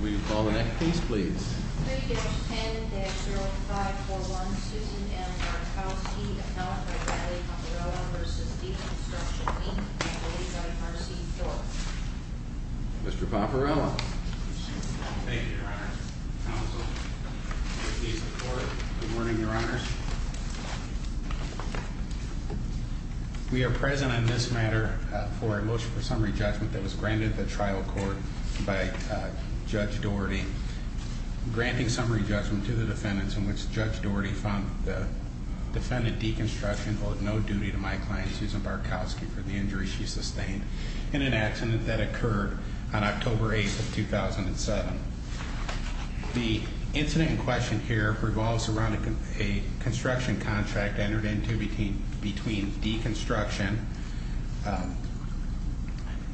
Will you call the next case, please? 3-010-0541, Susan M. Murkowski, anonymous by Popperella v. D. Construction, Inc., abiding by Part C-4. Mr. Popperella. Thank you, Your Honor. Counsel, please report. Good morning, Your Honors. We are present on this matter for a motion for summary judgment that was granted at the trial court by Judge Doherty, granting summary judgment to the defendants, in which Judge Doherty found the defendant, D. Construction, held no duty to my client, Susan Barkowski, for the injury she sustained in an accident that occurred on October 8, 2007. The incident in question here revolves around a construction contract entered between D. Construction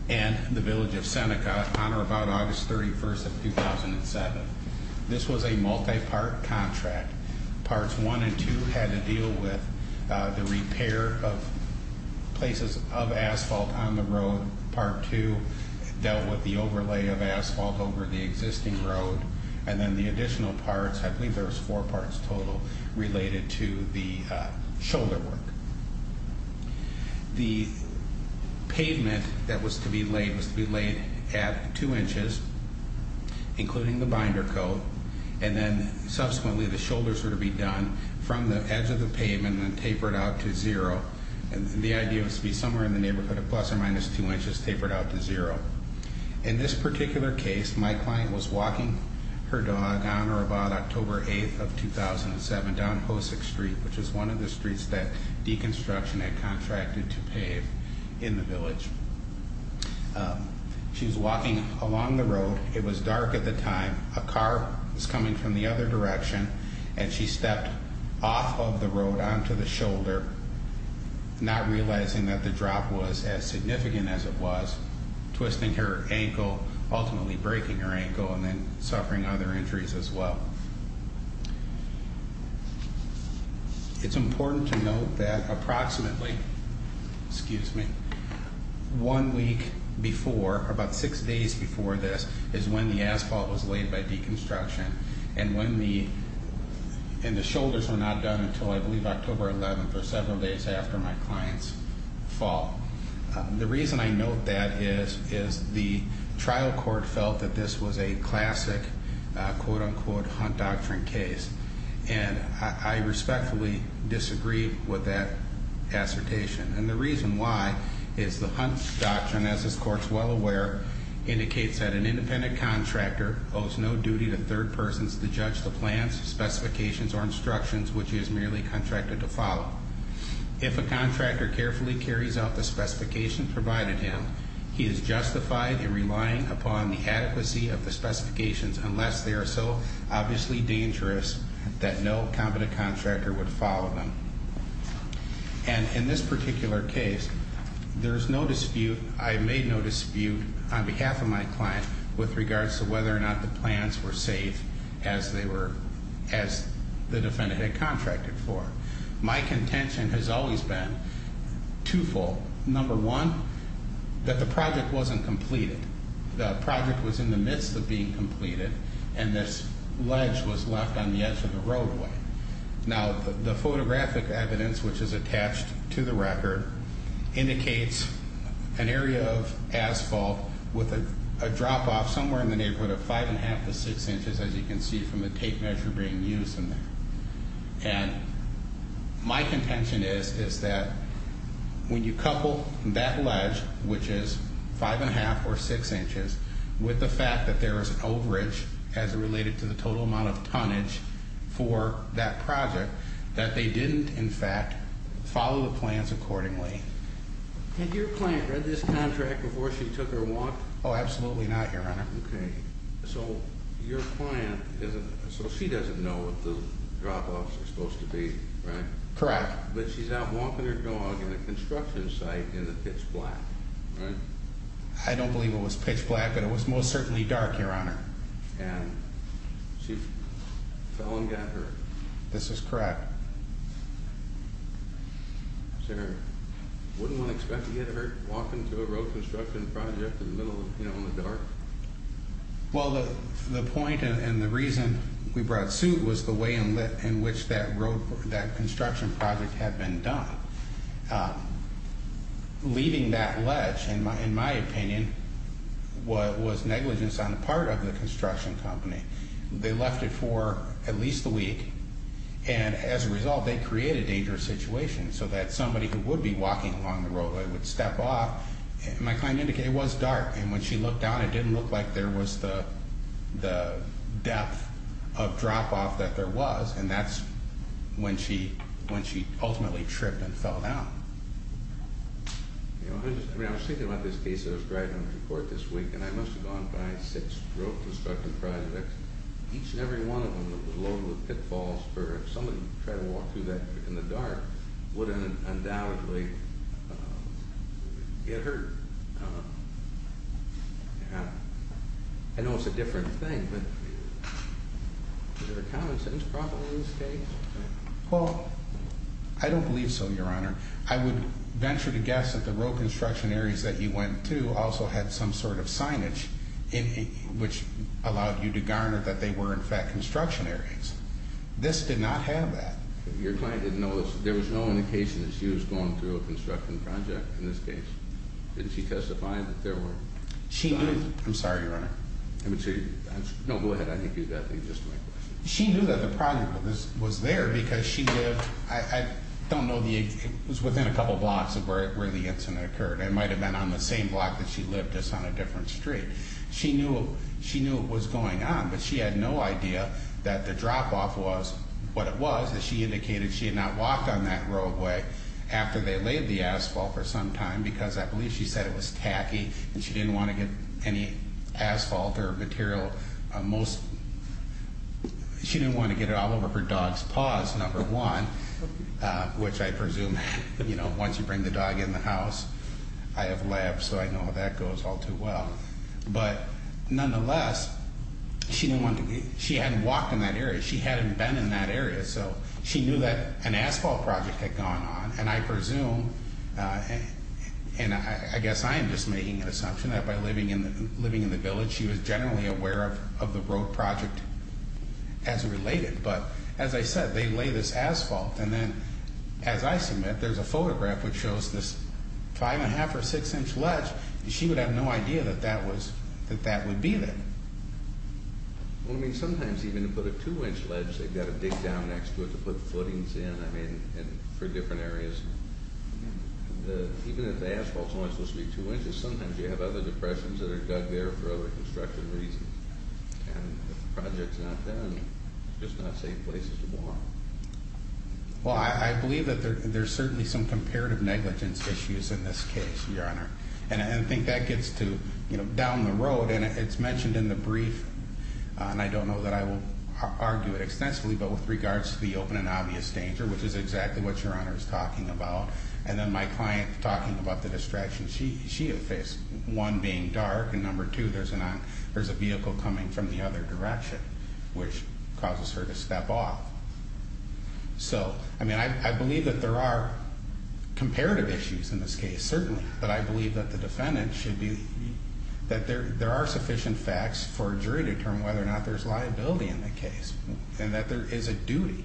and the Village of Seneca on or about August 31, 2007. This was a multi-part contract. Parts 1 and 2 had to deal with the repair of places of asphalt on the road. Part 2 dealt with the overlay of asphalt over the existing road. And then the additional parts, I believe there was four parts total, related to the shoulder work. The pavement that was to be laid was to be laid at two inches, including the binder coat, and then subsequently the shoulders were to be done from the edge of the pavement and then tapered out to zero. And the idea was to be somewhere in the neighborhood of plus or minus two inches, tapered out to zero. In this particular case, my client was walking her dog on or about October 8 of 2007 down Hosek Street, which is one of the streets that D. Construction had contracted to pave in the village. She was walking along the road. It was dark at the time. A car was coming from the other direction, and she stepped off of the road onto the shoulder, not realizing that the drop was as significant as it was, twisting her ankle, ultimately breaking her ankle, and then suffering other injuries as well. It's important to note that approximately, excuse me, one week before, about six days before this, is when the asphalt was laid by D. Construction, and when the, and the shoulders were not done until I believe October 11th or several days after my client's fall. The reason I note that is, is the trial court felt that this was a classic, quote unquote, hunt doctrine case. And I respectfully disagree with that assertation. And the reason why is the hunt doctrine, as this court's well aware, indicates that an independent contractor owes no duty to third persons to judge the plans, specifications, or instructions which he is merely contracted to follow. If a contractor carefully carries out the specifications provided him, he is justified in relying upon the adequacy of the specifications, unless they are so obviously dangerous that no competent contractor would follow them. And in this particular case, there is no dispute, I made no dispute on behalf of my client with regards to whether or not the plans were safe as they were, as the defendant had contracted for. My contention has always been twofold. Number one, that the project wasn't completed. The project was in the midst of being completed, and this ledge was left on the edge of the roadway. Now, the photographic evidence, which is attached to the record, indicates an area of asphalt with a drop off somewhere in the neighborhood of five and a half to six inches, as you can see from the tape measure being used in there. And my contention is, is that when you couple that ledge, which is five and a half or six inches, with the fact that there is an overage as related to the total amount of tonnage for that project, that they didn't, in fact, follow the plans accordingly. Had your client read this contract before she took her walk? Absolutely not, Your Honor. Okay. So, your client, so she doesn't know what the drop off is supposed to be, right? Correct. But she's out walking her dog in a construction site in the pitch black, right? I don't believe it was pitch black, but it was most certainly dark, Your Honor. And she fell and got hurt. This is correct. Sir, wouldn't one expect to get hurt walking to a road construction project in the middle, in the dark? Well, the point and the reason we brought suit was the way in which that road, that construction project had been done. Leaving that ledge, in my opinion, was negligence on the part of the construction company. They left it for at least a week. And as a result, they created a dangerous situation so that somebody who would be walking along the roadway would step off. And my client indicated it was dark, and when she looked down, it didn't look like there was the depth of drop off that there was. And that's when she ultimately tripped and fell down. I was thinking about this case that was dragged onto the court this week, and I must have gone by six road construction projects. Each and every one of them that was loaded with pitfalls for somebody to try to walk through that in the dark would undoubtedly get hurt. I know it's a different thing, but is there a common sense problem in this case? Well, I don't believe so, Your Honor. I would venture to guess that the road construction areas that you went to also had some sort of signage which allowed you to garner that they were, in fact, construction areas. This did not have that. Your client didn't know this. There was no indication that she was going through a construction project in this case. Didn't she testify that there were signs? She knew. I'm sorry, Your Honor. Let me tell you. No, go ahead. I think you've got the, just my question. She knew that the project was there because she lived, I don't know the, it was within a couple blocks of where the incident occurred. It might have been on the same block that she lived, just on a different street. She knew it was going on, but she had no idea that the drop off was what it was, as she indicated she had not walked on that roadway after they laid the asphalt for some time because I believe she said it was tacky and she didn't want to get any asphalt or material. Most, she didn't want to get it all over her dog's paws, number one, which I presume, you know, once you bring the dog in the house. I have labs, so I know that goes all too well. But nonetheless, she didn't want to, she hadn't walked in that area. She hadn't been in that area. So, she knew that an asphalt project had gone on, and I presume, and I guess I am just making an assumption that by living in the village, she was generally aware of the road project as related. But as I said, they lay this asphalt, and then as I submit, there's a photograph which shows this five and a half or six inch ledge, and she would have no idea that that was, that that would be there. Well, I mean, sometimes even to put a two-inch ledge, they've got to dig down next to it to put footings in, I mean, for different areas. Even if the asphalt's only supposed to be two inches, sometimes you have other depressions that are dug there for other constructive reasons. And if the project's not done, it's just not safe places to walk. Well, I believe that there's certainly some comparative negligence issues in this case, Your Honor. And I think that gets to, you know, down the road, and it's mentioned in the brief, and I don't know that I will argue it extensively, but with regards to the open and obvious danger, which is exactly what Your Honor is talking about. And then my client talking about the distractions she had faced. One being dark, and number two, there's a vehicle coming from the other direction, which causes her to step off. So, I mean, I believe that there are comparative issues in this case, certainly, but I believe that the defendant should be, that there are sufficient facts for a jury to determine whether or not there's liability in the case, and that there is a duty.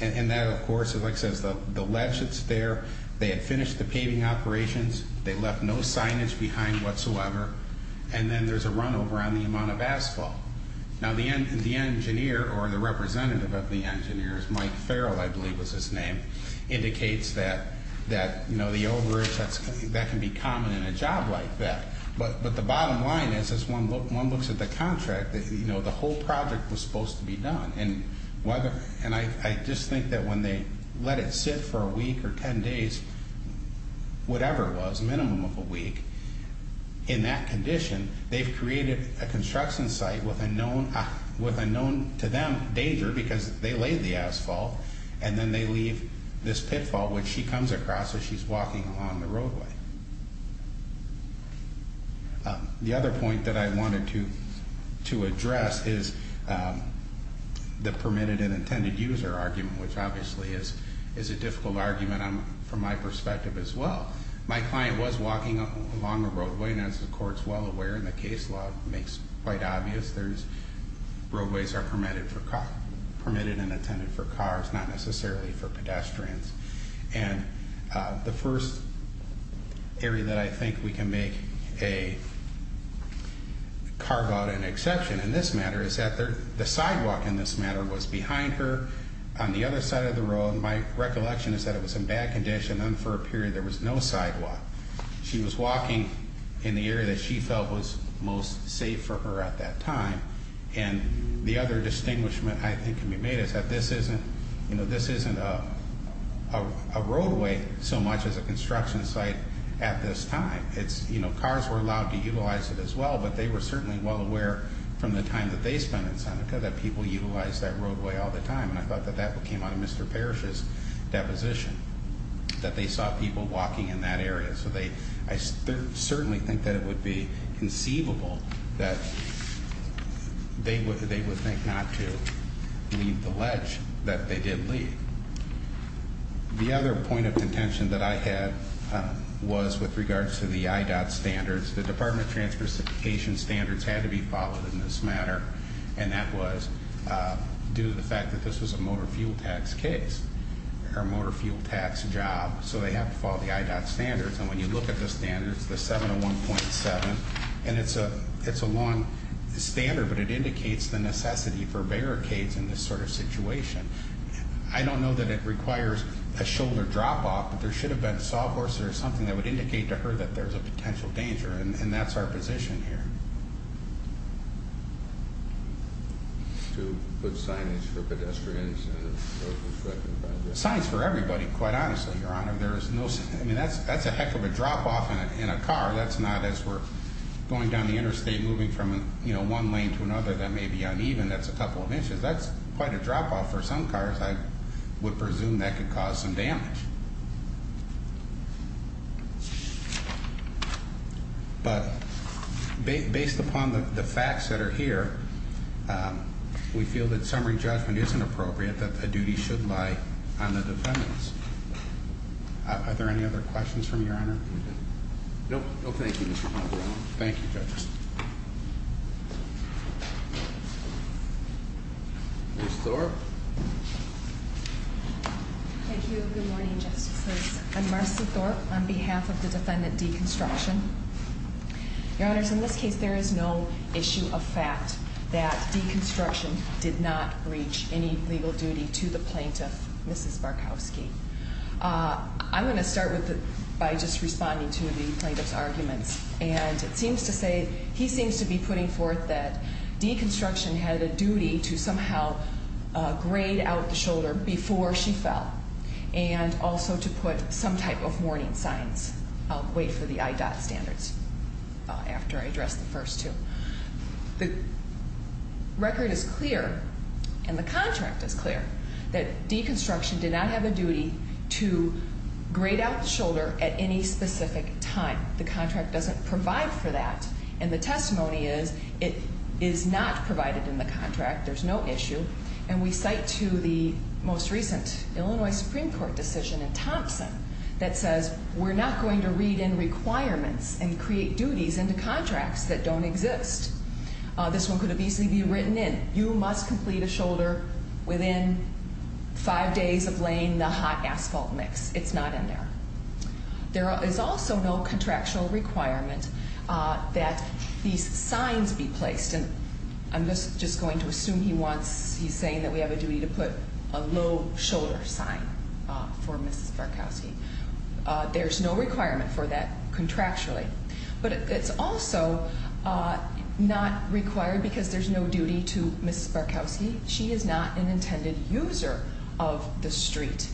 And that, of course, like I said, the ledge that's there, they had finished the paving operations, they left no signage behind whatsoever, and then there's a runover on the amount of asphalt. Now, the engineer, or the representative of the engineers, Mike Farrell, I believe was his name, indicates that, you know, the overage, that can be common in a job like that. But the bottom line is, as one looks at the contract, you know, the whole project was supposed to be done. And I just think that when they let it sit for a week or ten days, whatever it was, minimum of a week, in that condition, they've created a construction site with a known, to them, danger, because they laid the asphalt, and then they leave this pitfall, which she comes across as she's walking along the roadway. The other point that I wanted to address is the permitted and intended user argument, which obviously is a difficult argument from my perspective as well. My client was walking along the roadway, and as the court's well aware, and the case law makes quite obvious, roadways are permitted and intended for cars, not necessarily for pedestrians. And the first area that I think we can make a, carve out an exception in this matter, is that the sidewalk in this matter was behind her, on the other side of the road. My recollection is that it was in bad condition, and for a period there was no sidewalk. She was walking in the area that she felt was most safe for her at that time. And the other distinguishment I think can be made is that this isn't, you know, this isn't a roadway so much as a construction site at this time. It's, you know, cars were allowed to utilize it as well, but they were certainly well aware from the time that they spent in Seneca that people utilized that roadway all the time. And I thought that that came out of Mr. Parrish's deposition, that they saw people walking in that area. So they, I certainly think that it would be conceivable that they would think not to leave the ledge that they did leave. The other point of contention that I had was with regards to the IDOT standards. The Department of Transportation standards had to be followed in this matter, and that was due to the fact that this was a motor fuel tax case, or a motor fuel tax job, so they have to follow the IDOT standards. And when you look at the standards, the 701.7, and it's a long standard, but it indicates the necessity for barricades in this sort of situation. I don't know that it requires a shoulder drop-off, but there should have been soft horses or something that would indicate to her that there's a potential danger, and that's our position here. To put signage for pedestrians? Signs for everybody, quite honestly, Your Honor. I mean, that's a heck of a drop-off in a car. That's not as we're going down the interstate, moving from one lane to another that may be uneven. That's a couple of inches. That's quite a drop-off for some cars. I would presume that could cause some damage. But based upon the facts that are here, we feel that summary judgment isn't appropriate, that a duty should lie on the defendants. Are there any other questions from Your Honor? No. No, thank you. Thank you, Judges. Ms. Thorpe? Thank you. Good morning. Good morning, Justices. I'm Marcia Thorpe on behalf of the defendant, Deconstruction. Your Honors, in this case, there is no issue of fact that Deconstruction did not breach any legal duty to the plaintiff, Mrs. Barkowski. I'm going to start by just responding to the plaintiff's arguments. And it seems to say, he seems to be putting forth that Deconstruction had a duty to somehow grade out the shoulder before she fell. And also to put some type of warning signs. I'll wait for the IDOT standards after I address the first two. The record is clear, and the contract is clear, that Deconstruction did not have a duty to grade out the shoulder at any specific time. The contract doesn't provide for that. And the testimony is, it is not provided in the contract. There's no issue. And we cite to the most recent Illinois Supreme Court decision in Thompson that says, we're not going to read in requirements and create duties into contracts that don't exist. This one could easily be written in. You must complete a shoulder within five days of laying the hot asphalt mix. It's not in there. There is also no contractual requirement that these signs be placed. I'm just going to assume he's saying that we have a duty to put a low shoulder sign for Mrs. Barkowski. There's no requirement for that contractually. But it's also not required because there's no duty to Mrs. Barkowski. She is not an intended user of the street.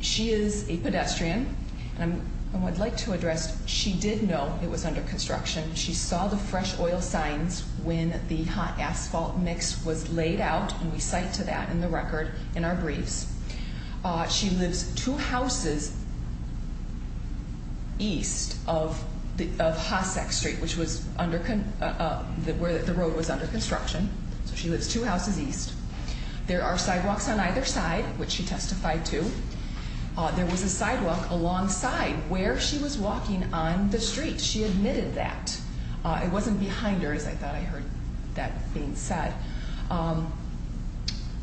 She is a pedestrian. And what I'd like to address, she did know it was under construction. She saw the fresh oil signs when the hot asphalt mix was laid out. And we cite to that in the record in our briefs. She lives two houses east of Hossack Street, which was where the road was under construction. So she lives two houses east. There are sidewalks on either side, which she testified to. There was a sidewalk alongside where she was walking on the street. She admitted that. It wasn't behind her, as I thought I heard that being said.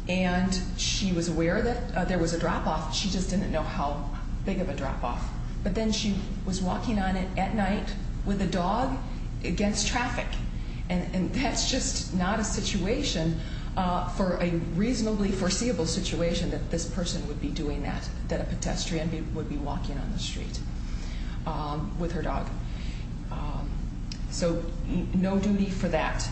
And she was aware that there was a drop-off. She just didn't know how big of a drop-off. But then she was walking on it at night with a dog against traffic. And that's just not a situation for a reasonably foreseeable situation that this person would be doing that, that a pedestrian would be walking on the street with her dog. So no duty for that.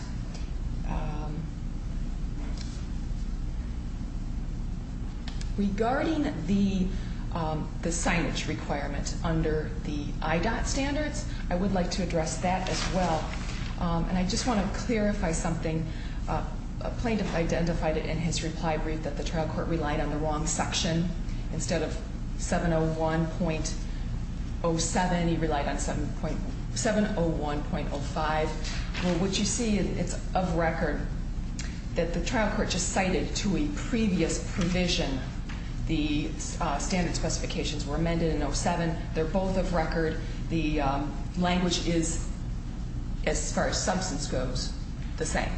Regarding the signage requirement under the IDOT standards, I would like to address that as well. And I just want to clarify something. A plaintiff identified it in his reply brief that the trial court relied on the wrong section. Instead of 701.07, he relied on 701.05. Well, what you see, it's of record that the trial court just cited to a previous provision the standard specifications were amended in 07. They're both of record. The language is, as far as substance goes, the same.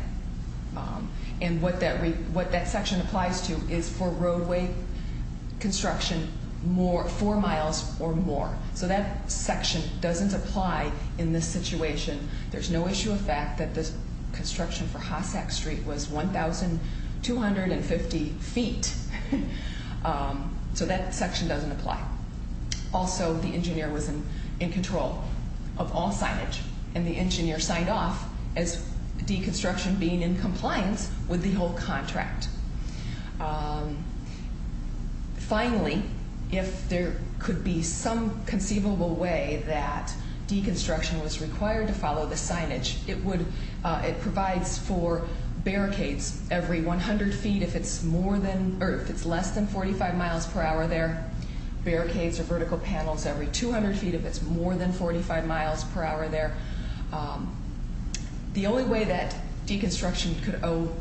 And what that section applies to is for roadway construction four miles or more. So that section doesn't apply in this situation. There's no issue of fact that this construction for Hossack Street was 1,250 feet. So that section doesn't apply. Also, the engineer was in control of all signage. And the engineer signed off as deconstruction being in compliance with the whole contract. Finally, if there could be some conceivable way that deconstruction was required to follow the signage, it provides for barricades every 100 feet if it's less than 45 miles per hour there, barricades or vertical panels every 200 feet if it's more than 45 miles per hour there. The only way that deconstruction could owe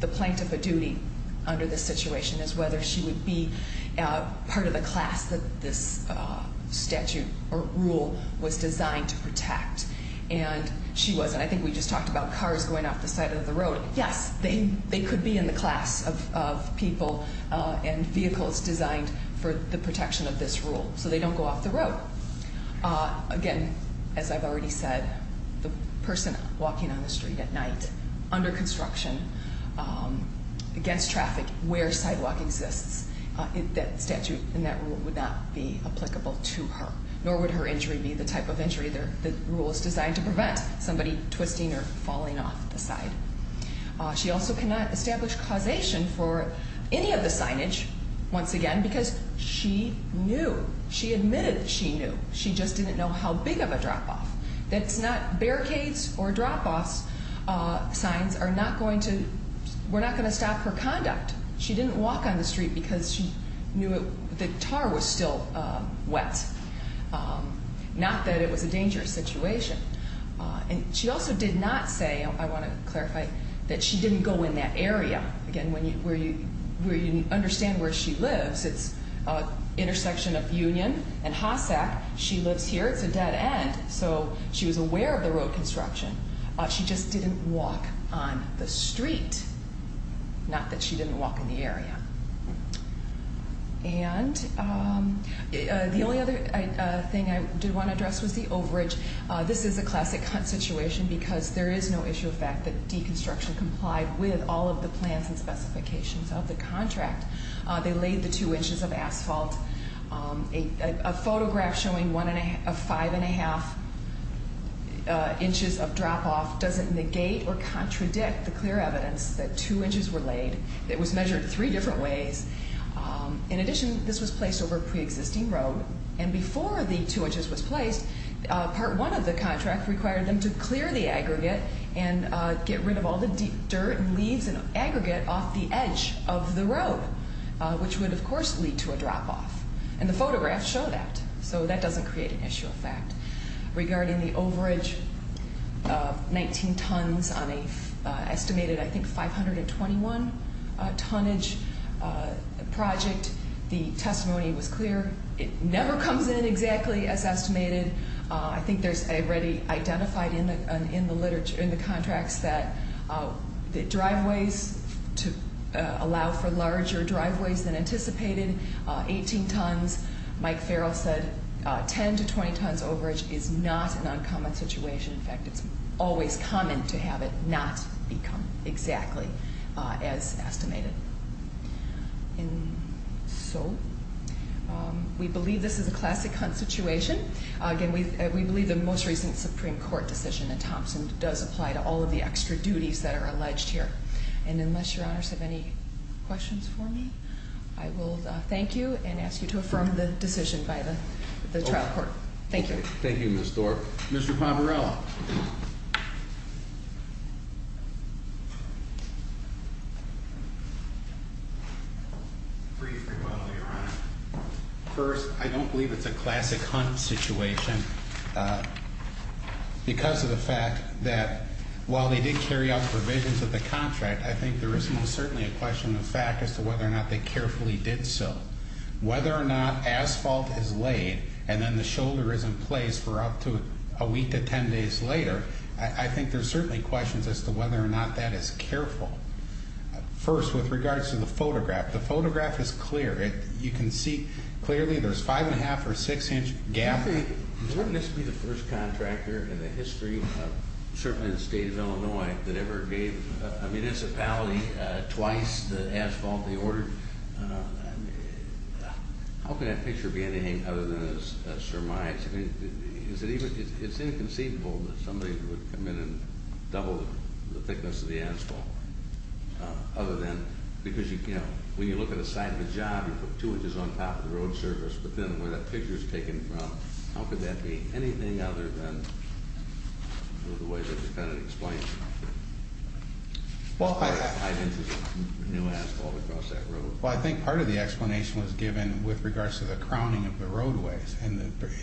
the plaintiff a duty under this situation is whether she would be part of the class that this statute or rule was designed to protect. And she wasn't. I think we just talked about cars going off the side of the road. Yes, they could be in the class of people and vehicles designed for the protection of this rule. So they don't go off the road. Again, as I've already said, the person walking on the street at night under construction, against traffic, where sidewalk exists, that statute and that rule would not be applicable to her. Nor would her injury be the type of injury the rule is designed to prevent, somebody twisting or falling off the side. She also cannot establish causation for any of the signage, once again, because she knew. She admitted she knew. She just didn't know how big of a drop-off. Barricades or drop-off signs were not going to stop her conduct. She didn't walk on the street because she knew the tar was still wet. Not that it was a dangerous situation. And she also did not say, I want to clarify, that she didn't go in that area. Again, where you understand where she lives, it's intersection of Union and Hossack. She lives here. It's a dead end. So she was aware of the road construction. She just didn't walk on the street. Not that she didn't walk in the area. And the only other thing I did want to address was the overage. This is a classic hunt situation because there is no issue of fact that the deconstruction complied with all of the plans and specifications of the contract. They laid the two inches of asphalt. A photograph showing five and a half inches of drop-off doesn't negate or contradict the clear evidence that two inches were laid. It was measured three different ways. In addition, this was placed over a pre-existing road. And before the two inches was placed, part one of the contract required them to clear the aggregate and get rid of all the deep dirt and leaves and aggregate off the edge of the road which would, of course, lead to a drop-off. And the photographs show that. So that doesn't create an issue of fact. Regarding the overage of 19 tons on an estimated, I think, 521 tonnage project, the testimony was clear. It never comes in exactly as estimated. I think there's already identified in the contracts that driveways to allow for larger driveways than anticipated. 18 tons, Mike Farrell said, 10 to 20 tons overage is not an uncommon situation. In fact, it's always common to have it not become exactly as estimated. And so we believe this is a classic hunt situation. We believe the most recent Supreme Court decision in Thompson does apply to all of the extra duties that are alleged here. And unless your honors have any questions for me, I will thank you and ask you to affirm the decision by the trial court. Thank you. Mr. Pavarello. First, I don't believe it's a classic hunt situation because of the fact that while they did carry out provisions of the contract, I think there is most certainly a question of fact as to whether or not they carefully did so. Whether or not asphalt is laid and then the shoulder is in place for up to a week to 10 days later, I think there's certainly questions as to whether or not that is careful. First, with regards to the photograph, the photograph is clear. You can see clearly there's 5 1⁄2 or 6 inch gap. Wouldn't this be the first contractor in the history of certainly the state of Illinois that ever gave a municipality twice the asphalt they ordered? How could that picture be anything other than surmise? It's inconceivable that somebody would come in and double the thickness of the asphalt other than, because when you look at the side of the job, you put two inches on top of the road surface, but then where that picture is taken from, how could that be anything other than the way that was kind of explained? Well, I think part of the explanation was given with regards to the crowning of the roadways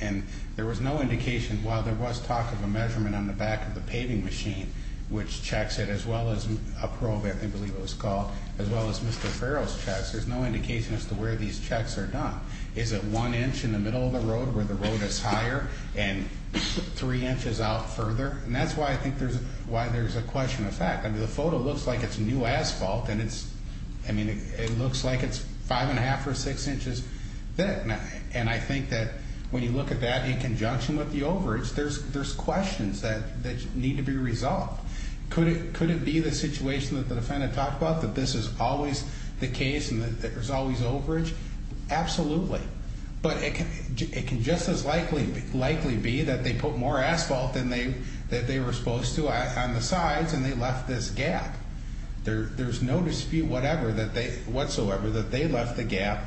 and there was no indication while there was talk of a measurement on the back of the paving machine which checks it as well as a probe as well as Mr. Farrell's checks, there's no indication as to where these checks are done. Is it one inch in the middle of the road where the road is higher and three inches out further? That's why I think there's a question of fact. The photo looks like it's new asphalt and it looks like it's six inches thick and I think that when you look at that in conjunction with the overage, there's questions that need to be resolved. Could it be the situation that the defendant talked about that this is always the case and there's always overage? Absolutely. But it can just as likely be that they put more asphalt than they were supposed to on the sides and they left this gap. There's no dispute whatsoever that they left the gap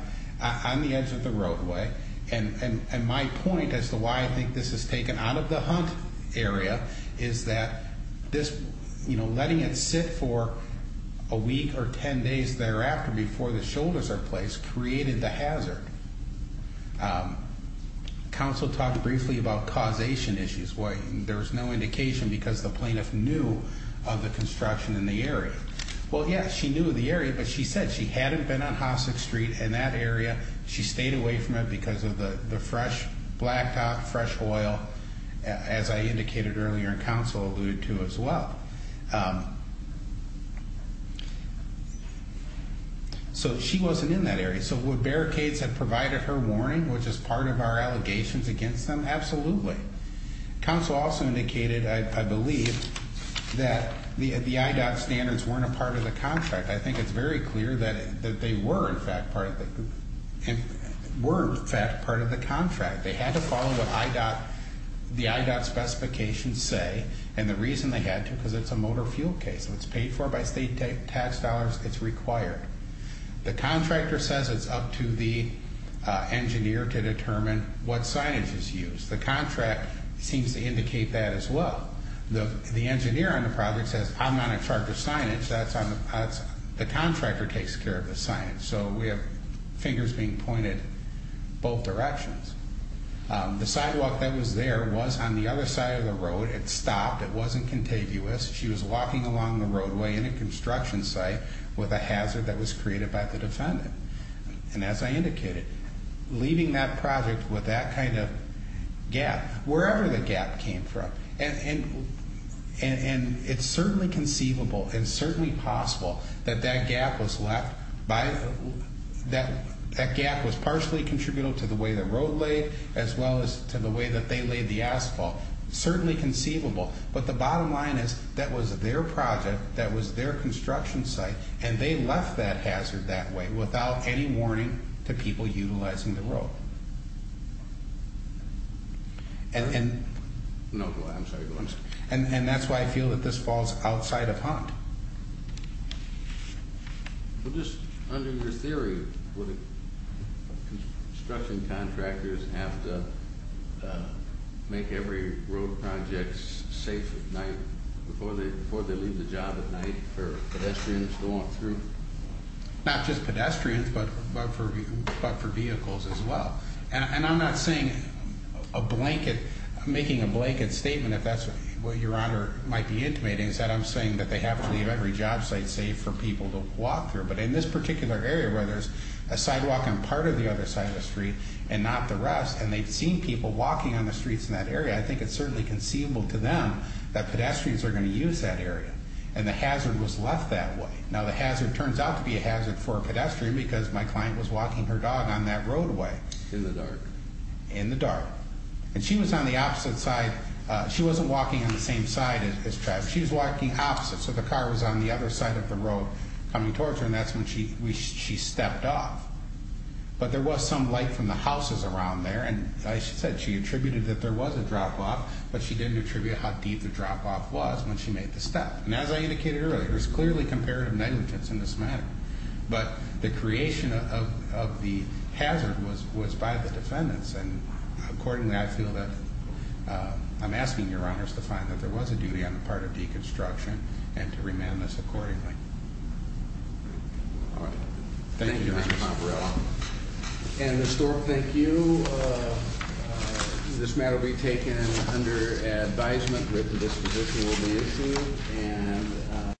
on the edge of the roadway and my point as to why I think this is taken out of the hunt area is that letting it sit for a week or ten days thereafter before the shoulders are placed created the hazard. Counsel talked briefly about causation issues where there was no indication because the plaintiff knew of the construction in the area. Well yeah, she knew of the area but she said she hadn't been on Hossack Street and that area, she stayed away from it because of the fresh blacktop, fresh oil as I indicated earlier and counsel alluded to as well. So she wasn't in that area. So would barricades have provided her warning which is part of our allegations against them? Absolutely. Counsel also indicated, I believe, that the IDOT standards weren't a part of the contract. I think it's very clear that they were in fact part of the contract. They had to follow what the IDOT specifications say and the reason they had to because it's a motor fuel case. It's paid for by state tax dollars. It's required. The contractor says it's up to the engineer to determine what signage is used. The contract seems to indicate that as well. The engineer on the project says, I'm not in charge of signage. The contractor takes care of the signage. So we have fingers being pointed both directions. The sidewalk that was there was on the other side of the road. It stopped. It wasn't contiguous. She was walking along the roadway in a construction site with a hazard that was created by the defendant. And as I indicated, leaving that project with that kind of gap wherever the gap came from. And it's certainly conceivable and certainly possible that that gap was left by that gap was partially contributed to the way the road laid as well as to the way that they laid the asphalt. Certainly conceivable. But the bottom line is that was their project that was their construction site and they left that hazard that way without any warning to people utilizing the road. And that's why I feel that this falls outside of Hunt. Just under your theory, would construction contractors have to make every road project safe at night before they leave the job at night for pedestrians to walk through? Not just pedestrians but for vehicles as well. And I'm not saying a blanket making a blanket statement if that's what your honor might be intimating is that I'm saying that they have to leave every job site safe for people to walk through. But in this particular area where there's a sidewalk on part of the other side of the street and not the rest and they've seen people walking on the streets in that area, I think it's certainly conceivable to them that pedestrians are going to use that area. And the hazard was left that way. Now the hazard turns out to be a hazard for a pedestrian because my client was walking her dog on that roadway. In the dark. In the dark. And she was on the opposite side. She wasn't walking on the same side as Travis. She was walking opposite so the car was on the other side of the road coming towards her and that's when she stepped off. But there was some light from the houses around there and she said she attributed that there was a drop off but she didn't attribute how deep the And as I indicated earlier, there's clearly comparative negligence in this matter. But the creation of the hazard was by the defendants and accordingly I feel that I'm asking your honors to find that there was a duty on the part of deconstruction and to remand this accordingly. Alright. Thank you. Thank you Mr. Pomperell. And Mr. Stork, thank you. This matter will be taken under advisement that the disposition will be issued and...